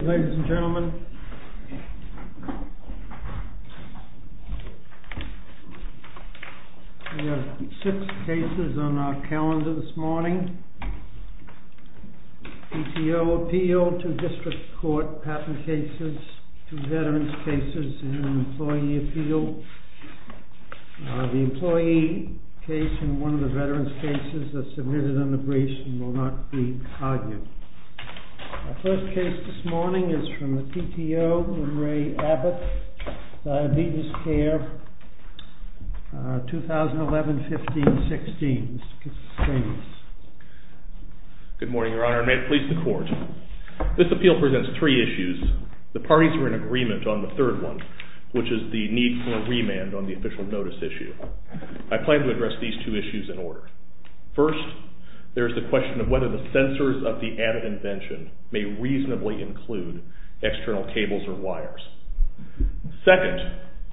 Ladies and gentlemen, we have six cases on our calendar this morning. PTO appeal, two district court patent cases, two veterans cases, and an employee appeal. The employee case and one of the veterans cases that submitted an abbreviation will not be argued. Our first case this morning is from the PTO, Ray Abbott, Diabetes Care, 2011-15-16. Good morning, your honor. May it please the court. This appeal presents three issues. The parties are in agreement on the third one, which is the need for remand on the official notice issue. I plan to address these two issues in order. First, there is the question of whether the censors of the Abbott invention may reasonably include external cables or wires. Second,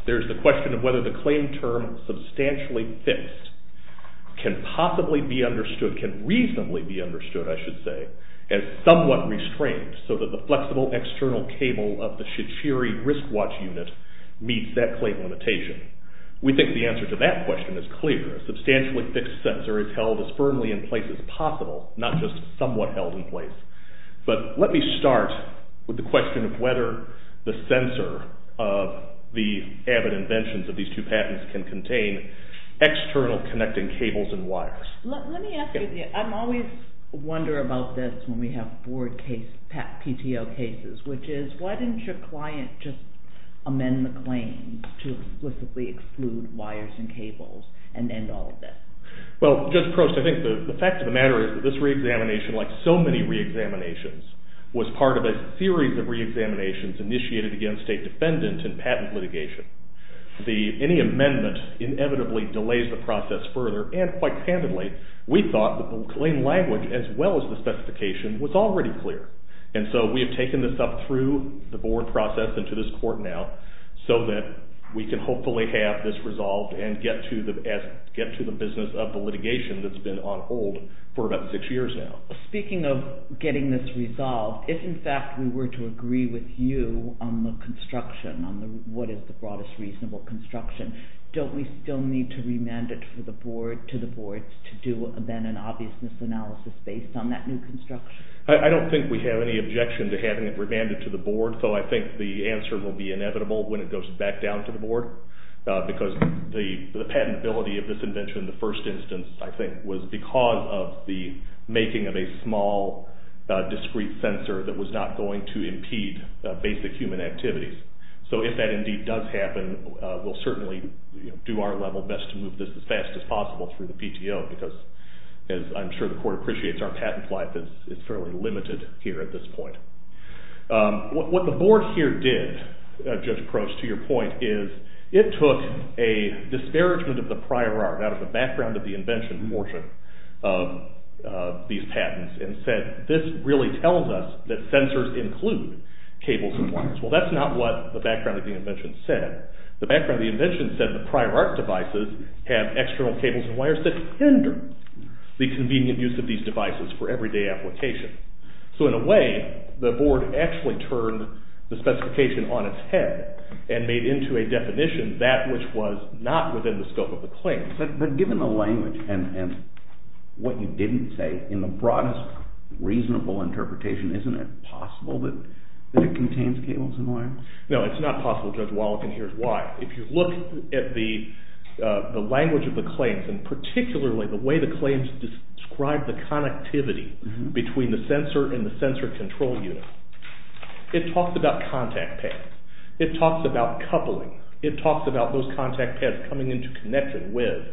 there is the question of whether the claim term, substantially fixed, can possibly be understood, can reasonably be understood, I should say, as somewhat restrained, so that the flexible external cable of the Shichiri risk watch unit meets that claim limitation. We think the answer to that question is clear. A substantially fixed censor is held as firmly in place as possible, not just somewhat held in place. But let me start with the question of whether the censor of the Abbott inventions of these two patents can contain external connecting cables and wires. Let me ask you, I always wonder about this when we have board case, PTO cases, which is, why didn't your client just amend the claim to explicitly exclude wires and cables and end all of this? Well, Judge Prost, I think the fact of the matter is that this re-examination, like so many re-examinations, was part of a series of re-examinations initiated against a defendant in patent litigation. Any amendment inevitably delays the process further, and quite candidly, we thought that the claim language, as well as the specification, was already clear. And so we have taken this up through the board process and to this court now, so that we can hopefully have this resolved and get to the business of the litigation that's been on hold for about six years now. Speaking of getting this resolved, if in fact we were to agree with you on the construction, on what is the broadest reasonable construction, don't we still need to remand it to the board to do then an obviousness analysis based on that new construction? I don't think we have any objection to having it remanded to the board, so I think the answer will be inevitable when it goes back down to the board, because the patentability of this invention in the first instance, I think, was because of the making of a small, discrete sensor that was not going to impede basic human activities. So if that indeed does happen, we'll certainly do our level best to move this as fast as possible through the PTO, because as I'm sure the court appreciates, our patent life is fairly limited here at this point. What the board here did, Judge Crouch, to your point, is it took a disparagement of the prior art, out of the background of the invention portion of these patents, and said this really tells us that sensors include cables and wires. Well, that's not what the background of the invention said. The background of the invention said the prior art devices have external cables and wires that hinder the convenient use of these devices for everyday application. So in a way, the board actually turned the specification on its head, and made into a definition that which was not within the scope of the claim. But given the language and what you didn't say, in the broadest reasonable interpretation, isn't it possible that it contains cables and wires? No, it's not possible, Judge Wallach, and here's why. If you look at the language of the claims, and particularly the way the claims describe the connectivity between the sensor and the sensor control unit, it talks about contact pads, it talks about coupling, it talks about those contact pads coming into connection with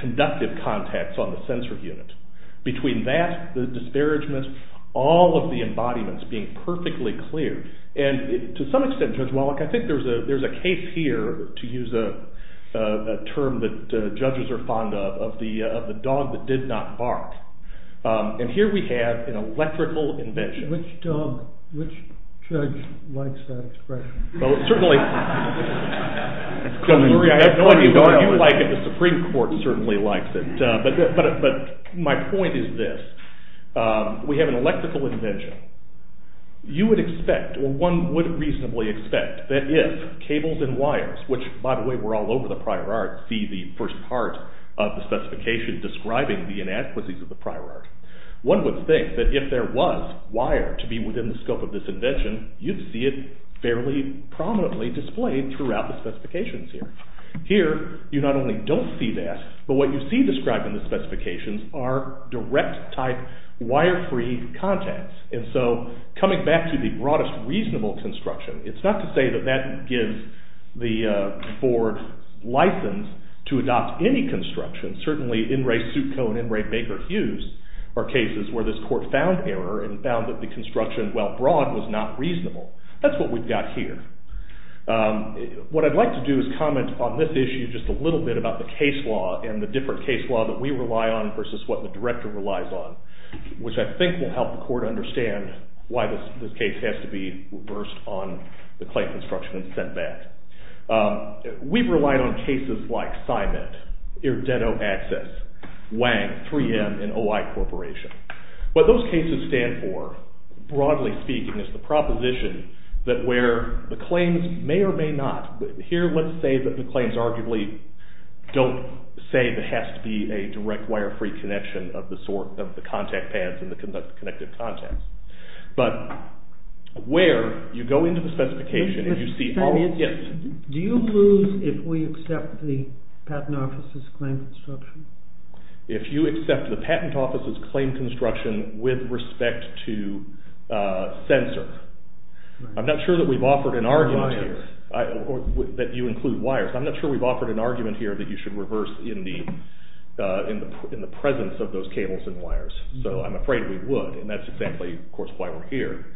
conductive contacts on the sensor unit. Between that, the disparagements, all of the embodiments being perfectly clear, and to some extent, Judge Wallach, I think there's a case here, to use a term that judges are fond of, of the dog that did not bark. And here we have an electrical invention. Which dog, which judge likes that expression? Well, certainly, I have no idea. The Supreme Court certainly likes it. But my point is this. We have an electrical invention. You would expect, or one would reasonably expect, that if cables and wires, which, by the way, were all over the prior art, see the first part of the specification describing the inadequacies of the prior art, one would think that if there was wire to be within the scope of this invention, you'd see it fairly prominently displayed throughout the specifications here. Here, you not only don't see that, but what you see described in the specifications are direct-type, wire-free contacts. And so, coming back to the broadest reasonable construction, it's not to say that that gives the board license to adopt any construction. Certainly, In re Sukho and In re Baker-Hughes are cases where this court found error and found that the construction, while broad, was not reasonable. That's what we've got here. What I'd like to do is comment on this issue just a little bit about the case law and the different case law that we rely on versus what the director relies on, which I think will help the court understand why this case has to be reversed on the claim construction and sent back. We've relied on cases like Symet, Irdeno Access, Wang, 3M, and OI Corporation. What those cases stand for, broadly speaking, is the proposition that where the claims may or may not... Here, let's say that the claims arguably don't say there has to be a direct wire-free connection of the contact pads and the connective contacts. But where you go into the specification and you see... Do you lose if we accept the Patent Office's claim construction? If you accept the Patent Office's claim construction with respect to sensor. I'm not sure that we've offered an argument here that you include wires. I'm not sure we've offered an argument here that you should reverse in the presence of those cables and wires. So I'm afraid we would, and that's exactly, of course, why we're here.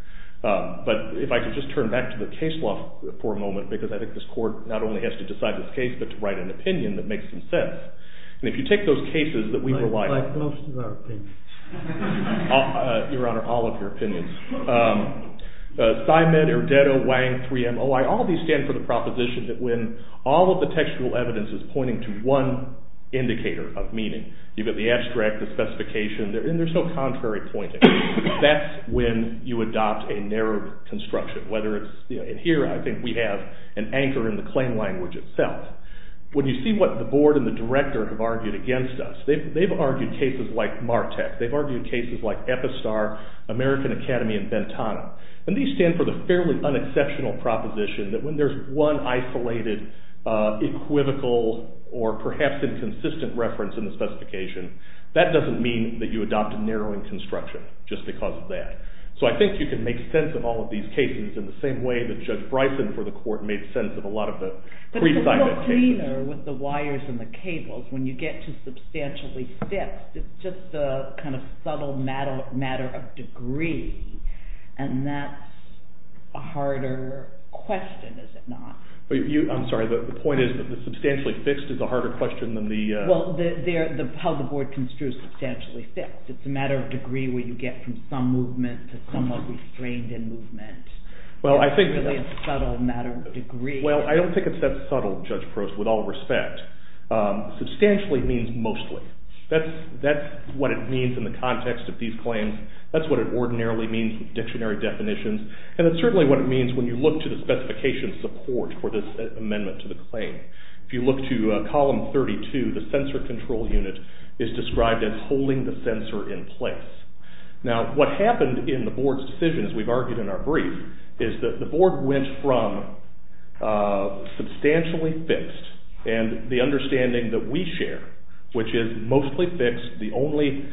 But if I could just turn back to the case law for a moment, because I think this court not only has to decide this case, but to write an opinion that makes some sense. And if you take those cases that we've relied on... Like most of our opinions. Your Honor, all of your opinions. Simon, Erdedo, Wang, 3M, OI, all of these stand for the proposition that when all of the textual evidence is pointing to one indicator of meaning. You've got the abstract, the specification, and there's no contrary pointing. That's when you adopt a narrow construction, whether it's... And here, I think we have an anchor in the claim language itself. When you see what the board and the director have argued against us, they've argued cases like Martek, they've argued cases like Epistar, American Academy, and Bentana. And these stand for the fairly unexceptional proposition that when there's one isolated, equivocal, or perhaps inconsistent reference in the specification, that doesn't mean that you adopt a narrowing construction just because of that. So I think you can make sense of all of these cases in the same way that Judge Bryson for the court made sense of a lot of the prescient cases. But it's a little cleaner with the wires and the cables. When you get to substantially fixed, it's just a kind of subtle matter of degree. And that's a harder question, is it not? I'm sorry, the point is that the substantially fixed is a harder question than the... Well, how the board construes substantially fixed. It's a matter of degree where you get from some movement to somewhat restrained in movement. It's really a subtle matter of degree. Well, I don't think it's that subtle, Judge Probst, with all respect. Substantially means mostly. That's what it means in the context of these claims. That's what it ordinarily means with dictionary definitions. And it's certainly what it means when you look to the specification support for this amendment to the claim. If you look to column 32, the sensor control unit is described as holding the sensor in place. Now, what happened in the board's decision, as we've argued in our brief, is that the board went from substantially fixed and the understanding that we share, which is mostly fixed, the only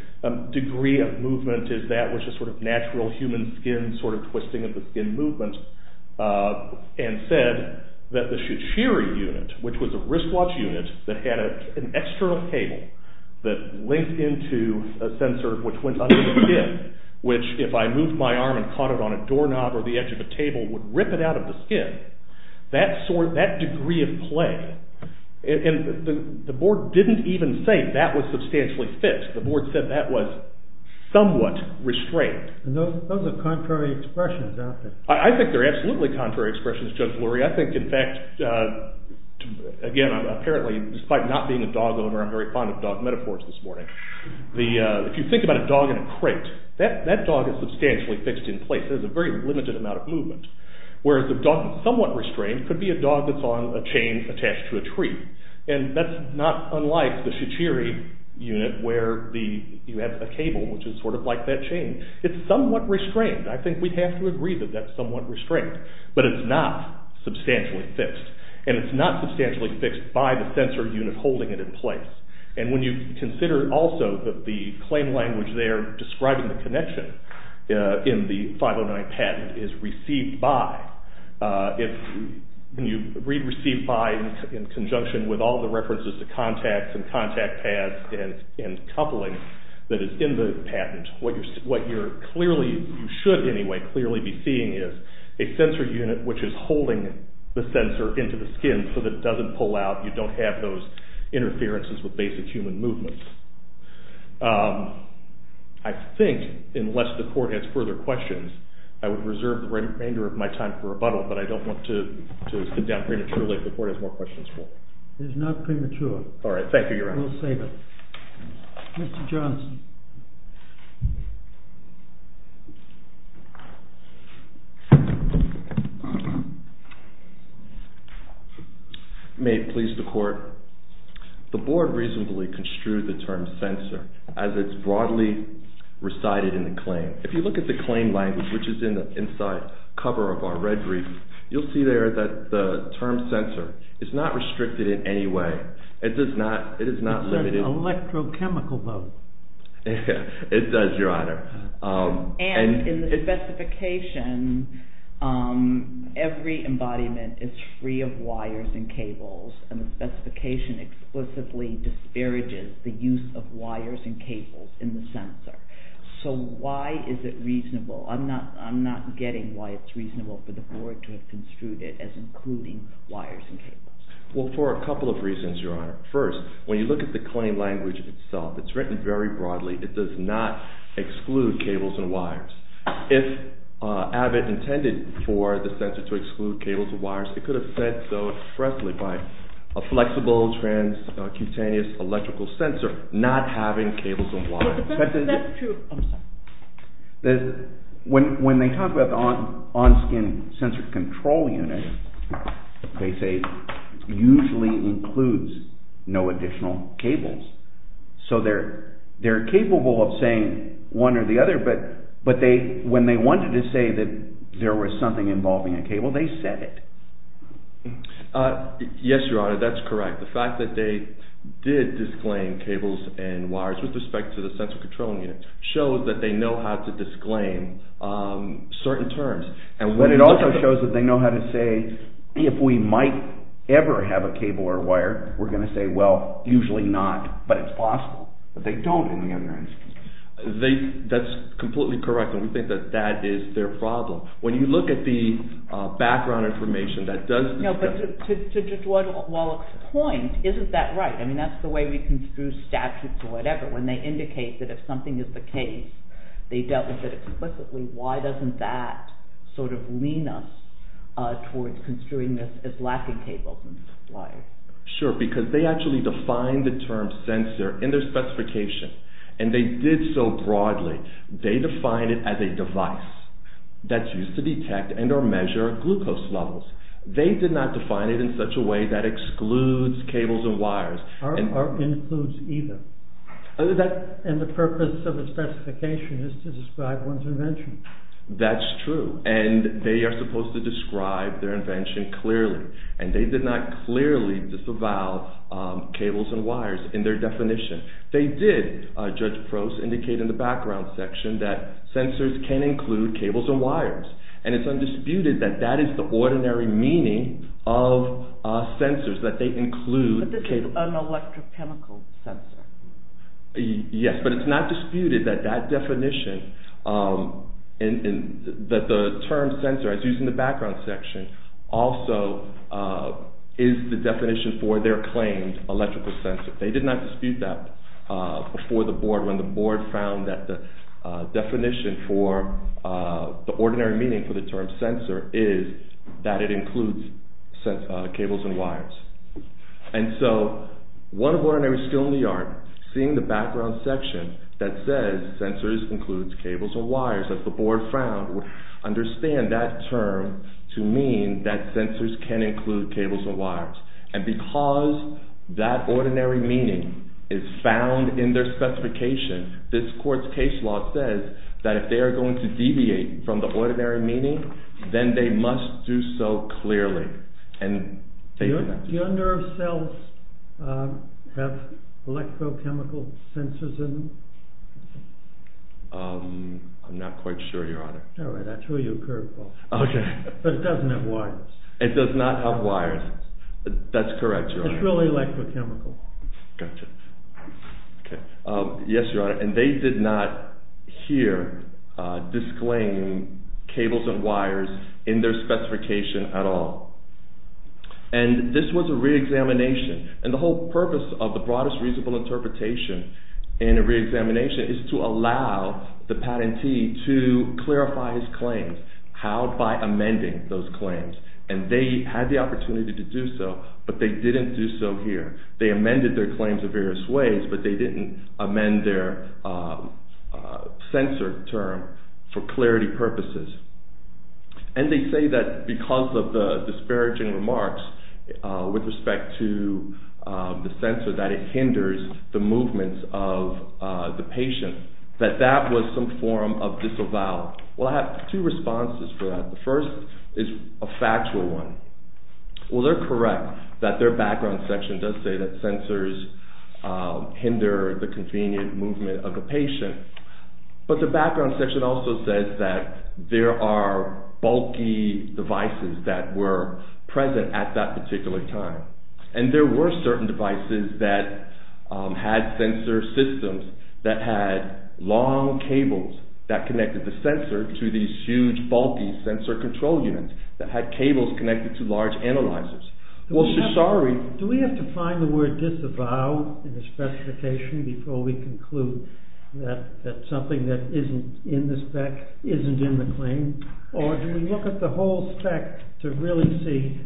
degree of movement is that, which is sort of natural human skin, sort of twisting of the skin movement, and said that the Shichiri unit, which was a wristwatch unit that had an external cable that linked into a sensor which went under the skin, which if I moved my arm and caught it on a doorknob or the edge of a table would rip it out of the skin, that degree of play, and the board didn't even say that was substantially fixed. The board said that was somewhat restrained. Those are contrary expressions, aren't they? I think they're absolutely contrary expressions, Judge Lurie. I think, in fact, again, apparently, despite not being a dog owner, I'm very fond of dog metaphors this morning. If you think about a dog in a crate, that dog is substantially fixed in place. There's a very limited amount of movement, whereas a dog that's somewhat restrained could be a dog that's on a chain attached to a tree, and that's not unlike the Shichiri unit where you have a cable which is sort of like that chain. It's somewhat restrained. I think we'd have to agree that that's somewhat restrained, but it's not substantially fixed, and it's not substantially fixed by the sensor unit holding it in place. And when you consider also that the claim language there describing the connection in the 509 patent is received by, when you read received by in conjunction with all the references to contacts and contact paths and coupling that is in the patent, what you should anyway clearly be seeing is a sensor unit which is holding the sensor into the skin so that it doesn't pull out. You don't have those interferences with basic human movements. I think, unless the court has further questions, I would reserve the remainder of my time for rebuttal, but I don't want to sit down prematurely if the court has more questions for me. It is not premature. All right. Thank you, Your Honor. We'll save it. Mr. Johnson. May it please the Court. The Board reasonably construed the term sensor as it's broadly recited in the claim. If you look at the claim language, which is in the inside cover of our red brief, you'll see there that the term sensor is not restricted in any way. It does not. It is not limited. It says electrochemical though. It does, Your Honor. And in the specification, every embodiment is free of wires and cables, and the specification explicitly disparages the use of wires and cables in the sensor. So why is it reasonable? I'm not getting why it's reasonable for the Board to have construed it as including wires and cables. Well, for a couple of reasons, Your Honor. First, when you look at the claim language itself, it's written very broadly. It does not exclude cables and wires. If Abbott intended for the sensor to exclude cables and wires, it could have said so expressly by a flexible, transcutaneous electrical sensor not having cables and wires. That's true. I'm sorry. When they talk about the on-skin sensor control unit, they say it usually includes no additional cables. So they're capable of saying one or the other, but when they wanted to say that there was something involving a cable, they said it. Yes, Your Honor, that's correct. The fact that they did disclaim cables and wires with respect to the sensor control unit shows that they know how to disclaim certain terms. But it also shows that they know how to say, if we might ever have a cable or a wire, we're going to say, well, usually not, but it's possible that they don't in the other instance. That's completely correct, and we think that that is their problem. When you look at the background information that does— No, but to Judge Wallach's point, isn't that right? I mean, that's the way we construe statutes or whatever, when they indicate that if something is the case, they dealt with it explicitly. Why doesn't that sort of lean us towards construing this as lacking cables and wires? Sure, because they actually defined the term sensor in their specification, and they did so broadly. They defined it as a device that's used to detect and or measure glucose levels. They did not define it in such a way that excludes cables and wires. Or includes either. And the purpose of the specification is to describe one's invention. That's true, and they are supposed to describe their invention clearly, and they did not clearly disavow cables and wires in their definition. They did, Judge Prost indicated in the background section, that sensors can include cables and wires, and it's undisputed that that is the ordinary meaning of sensors, that they include cables— But this is an electrochemical sensor. Yes, but it's not disputed that that definition, that the term sensor, as used in the background section, also is the definition for their claimed electrical sensor. They did not dispute that before the board, when the board found that the definition for the ordinary meaning for the term sensor is that it includes cables and wires. And so, one of ordinary skill in the art, seeing the background section that says sensors includes cables and wires, that the board found, would understand that term to mean that sensors can include cables and wires. And because that ordinary meaning is found in their specification, this court's case law says that if they are going to deviate from the ordinary meaning, then they must do so clearly. Do your nerve cells have electrochemical sensors in them? I'm not quite sure, Your Honor. All right, that's who you occurred for. Okay. But it doesn't have wires. It does not have wires. That's correct, Your Honor. It's really electrochemical. Gotcha. Okay. Yes, Your Honor. And they did not hear disclaiming cables and wires in their specification at all. And this was a re-examination. And the whole purpose of the broadest reasonable interpretation in a re-examination is to allow the patentee to clarify his claims. How? By amending those claims. And they had the opportunity to do so, but they didn't do so here. They amended their claims in various ways, but they didn't amend their sensor term for clarity purposes. And they say that because of the disparaging remarks with respect to the sensor, that it hinders the movements of the patient, that that was some form of disavowal. Well, I have two responses for that. The first is a factual one. Well, they're correct that their background section does say that sensors hinder the convenient movement of the patient. But the background section also says that there are bulky devices that were present at that particular time. And there were certain devices that had sensor systems that had long cables that connected the sensor to these huge bulky sensor control units that had cables connected to large analyzers. Do we have to find the word disavow in the specification before we conclude that something that isn't in the spec isn't in the claim? Or do we look at the whole spec to really see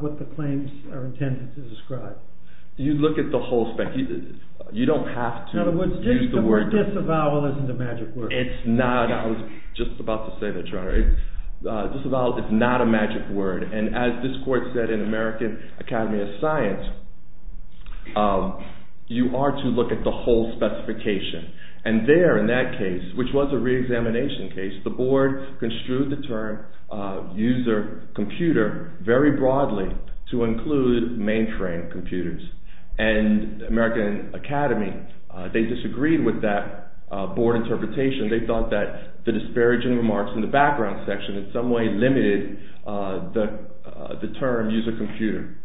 what the claims are intended to describe? You look at the whole spec. You don't have to use the word. In other words, the word disavowal isn't a magic word. It's not. I was just about to say that. Disavowal is not a magic word. And as this court said in American Academy of Science, you are to look at the whole specification. And there in that case, which was a reexamination case, the board construed the term user computer very broadly to include mainframe computers. And American Academy, they disagreed with that board interpretation. They thought that the disparaging remarks in the background section in some way limited the term user computer.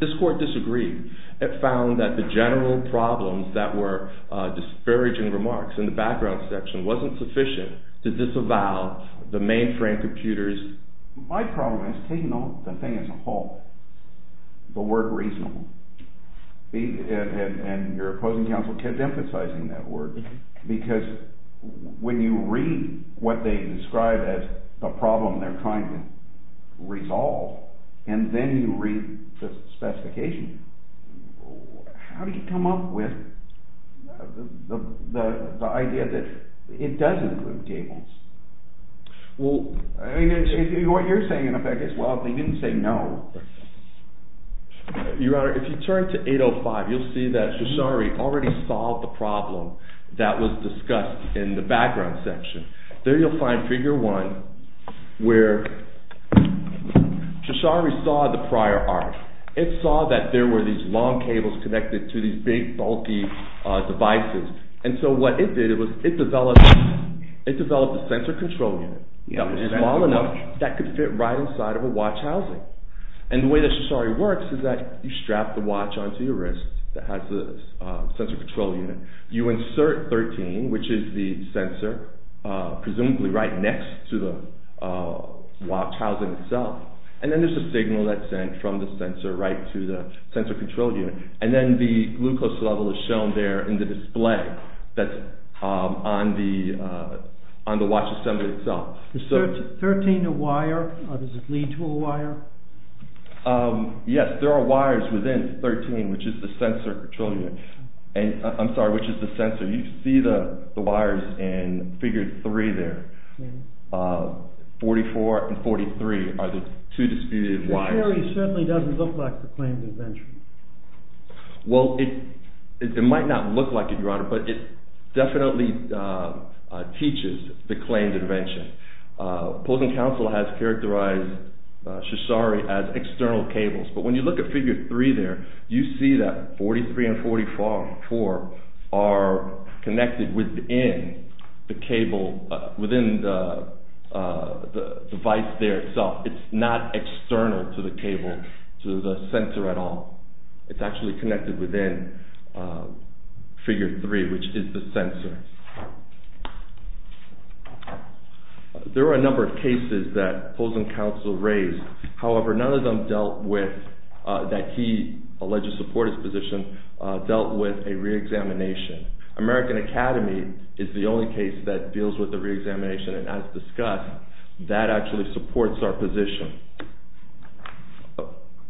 This court disagreed. It found that the general problems that were disparaging remarks in the background section wasn't sufficient to disavow the mainframe computers. My problem has taken on the thing as a whole, the word reasonable. And your opposing counsel kept emphasizing that word. Because when you read what they describe as the problem they're trying to resolve, and then you read the specification, how do you come up with the idea that it does include cables? What you're saying in effect is, well, they didn't say no. Your Honor, if you turn to 805, you'll see that Shoshari already solved the problem that was discussed in the background section. There you'll find figure one where Shoshari saw the prior art. It saw that there were these long cables connected to these big bulky devices. And so what it did was it developed a sensor control unit that was small enough that could fit right inside of a watch housing. And the way that Shoshari works is that you strap the watch onto your wrist that has the sensor control unit. You insert 13, which is the sensor, presumably right next to the watch housing itself. And then there's a signal that's sent from the sensor right to the sensor control unit. And then the glucose level is shown there in the display that's on the watch assembly itself. Is 13 a wire or does it lead to a wire? Yes, there are wires within 13, which is the sensor control unit. I'm sorry, which is the sensor. You see the wires in figure three there. 44 and 43 are the two disputed wires. Shoshari certainly doesn't look like the claimed invention. Well, it might not look like it, Your Honor, but it definitely teaches the claimed invention. Posing Council has characterized Shoshari as external cables. But when you look at figure three there, you see that 43 and 44 are connected within the cable, within the device there itself. It's not external to the cable, to the sensor at all. It's actually connected within figure three, which is the sensor. There are a number of cases that Posing Council raised. However, none of them dealt with, that he alleged to support his position, dealt with a reexamination. American Academy is the only case that deals with the reexamination. And as discussed, that actually supports our position.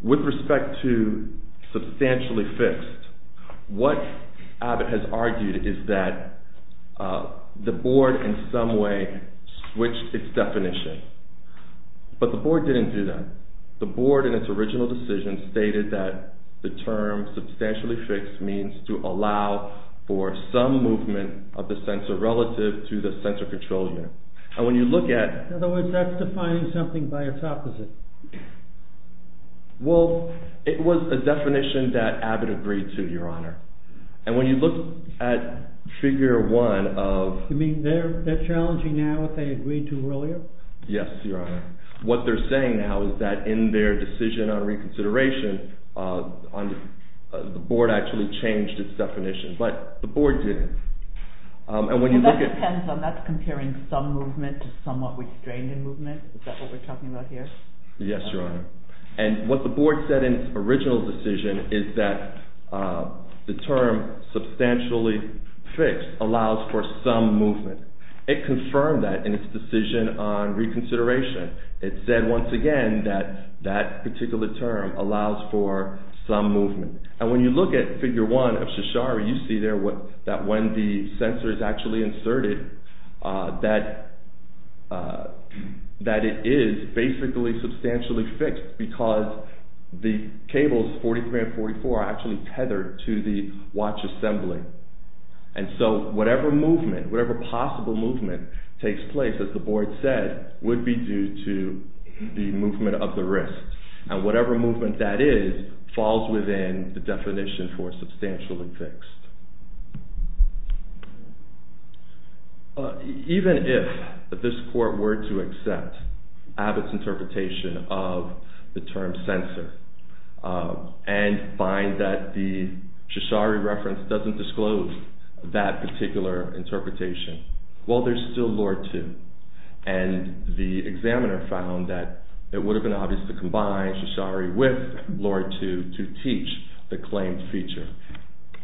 With respect to substantially fixed, what Abbott has argued is that the board in some way switched its definition. But the board didn't do that. The board in its original decision stated that the term substantially fixed means to allow for some movement of the sensor relative to the sensor control unit. In other words, that's defining something by its opposite. Well, it was a definition that Abbott agreed to, Your Honor. And when you look at figure one of... You mean they're challenging now what they agreed to earlier? Yes, Your Honor. What they're saying now is that in their decision on reconsideration, the board actually changed its definition. But the board didn't. Well, that depends on, that's comparing some movement to somewhat restraining movement. Is that what we're talking about here? Yes, Your Honor. And what the board said in its original decision is that the term substantially fixed allows for some movement. It confirmed that in its decision on reconsideration. It said once again that that particular term allows for some movement. And when you look at figure one of Shashari, you see there that when the sensor is actually inserted, that it is basically substantially fixed because the cables 43 and 44 are actually tethered to the watch assembly. And so whatever movement, whatever possible movement takes place, as the board said, would be due to the movement of the wrist. And whatever movement that is falls within the definition for substantially fixed. Even if this court were to accept Abbott's interpretation of the term sensor and find that the Shashari reference doesn't disclose that particular interpretation, well, there's still Lorde II. And the examiner found that it would have been obvious to combine Shashari with Lorde II to teach the claimed feature.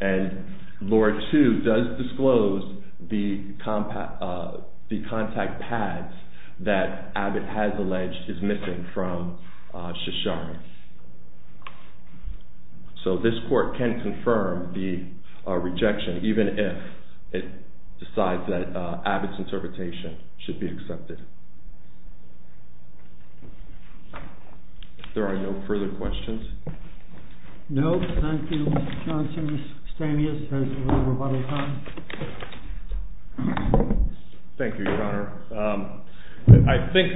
And Lorde II does disclose the contact pads that Abbott has alleged is missing from Shashari. So this court can confirm the rejection even if it decides that Abbott's interpretation should be accepted. If there are no further questions. No? Thank you, Mr. Johnson. Mr. Stanius has a little rebuttal time. Thank you, Your Honor. I think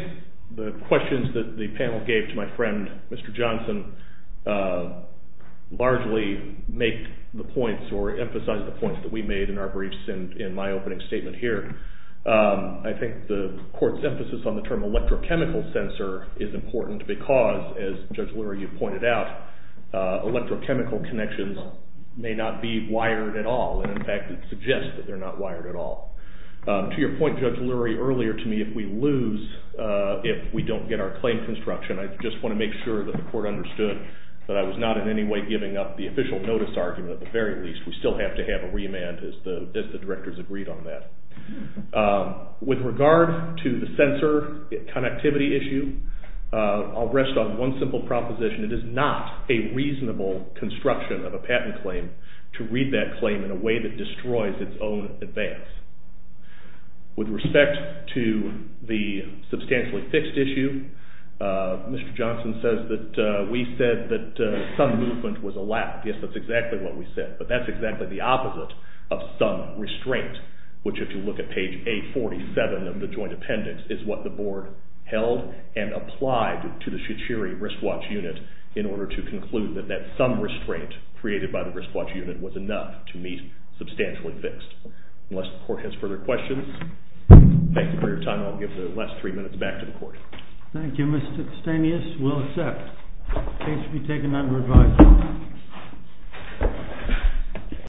the questions that the panel gave to my friend, Mr. Johnson, largely make the points or emphasize the points that we made in our briefs in my opening statement here. I think the court's emphasis on the term electrochemical sensor is important because, as Judge Lurie, you pointed out, electrochemical connections may not be wired at all. And, in fact, it suggests that they're not wired at all. To your point, Judge Lurie, earlier to me, if we lose, if we don't get our claim construction, I just want to make sure that the court understood that I was not in any way giving up the official notice argument at the very least. We still have to have a remand as the directors agreed on that. With regard to the sensor connectivity issue, I'll rest on one simple proposition. It is not a reasonable construction of a patent claim to read that claim in a way that destroys its own advance. With respect to the substantially fixed issue, Mr. Johnson says that we said that some movement was allowed. Yes, that's exactly what we said. But that's exactly the opposite of some restraint, which, if you look at page 847 of the joint appendix, is what the board held and applied to the Shichiri wristwatch unit in order to conclude that that some restraint created by the wristwatch unit was enough to meet substantially fixed. Unless the court has further questions, thanks for your time. I'll give the last three minutes back to the court. Thank you, Mr. Stanius. We'll accept. Please be taken under advisory.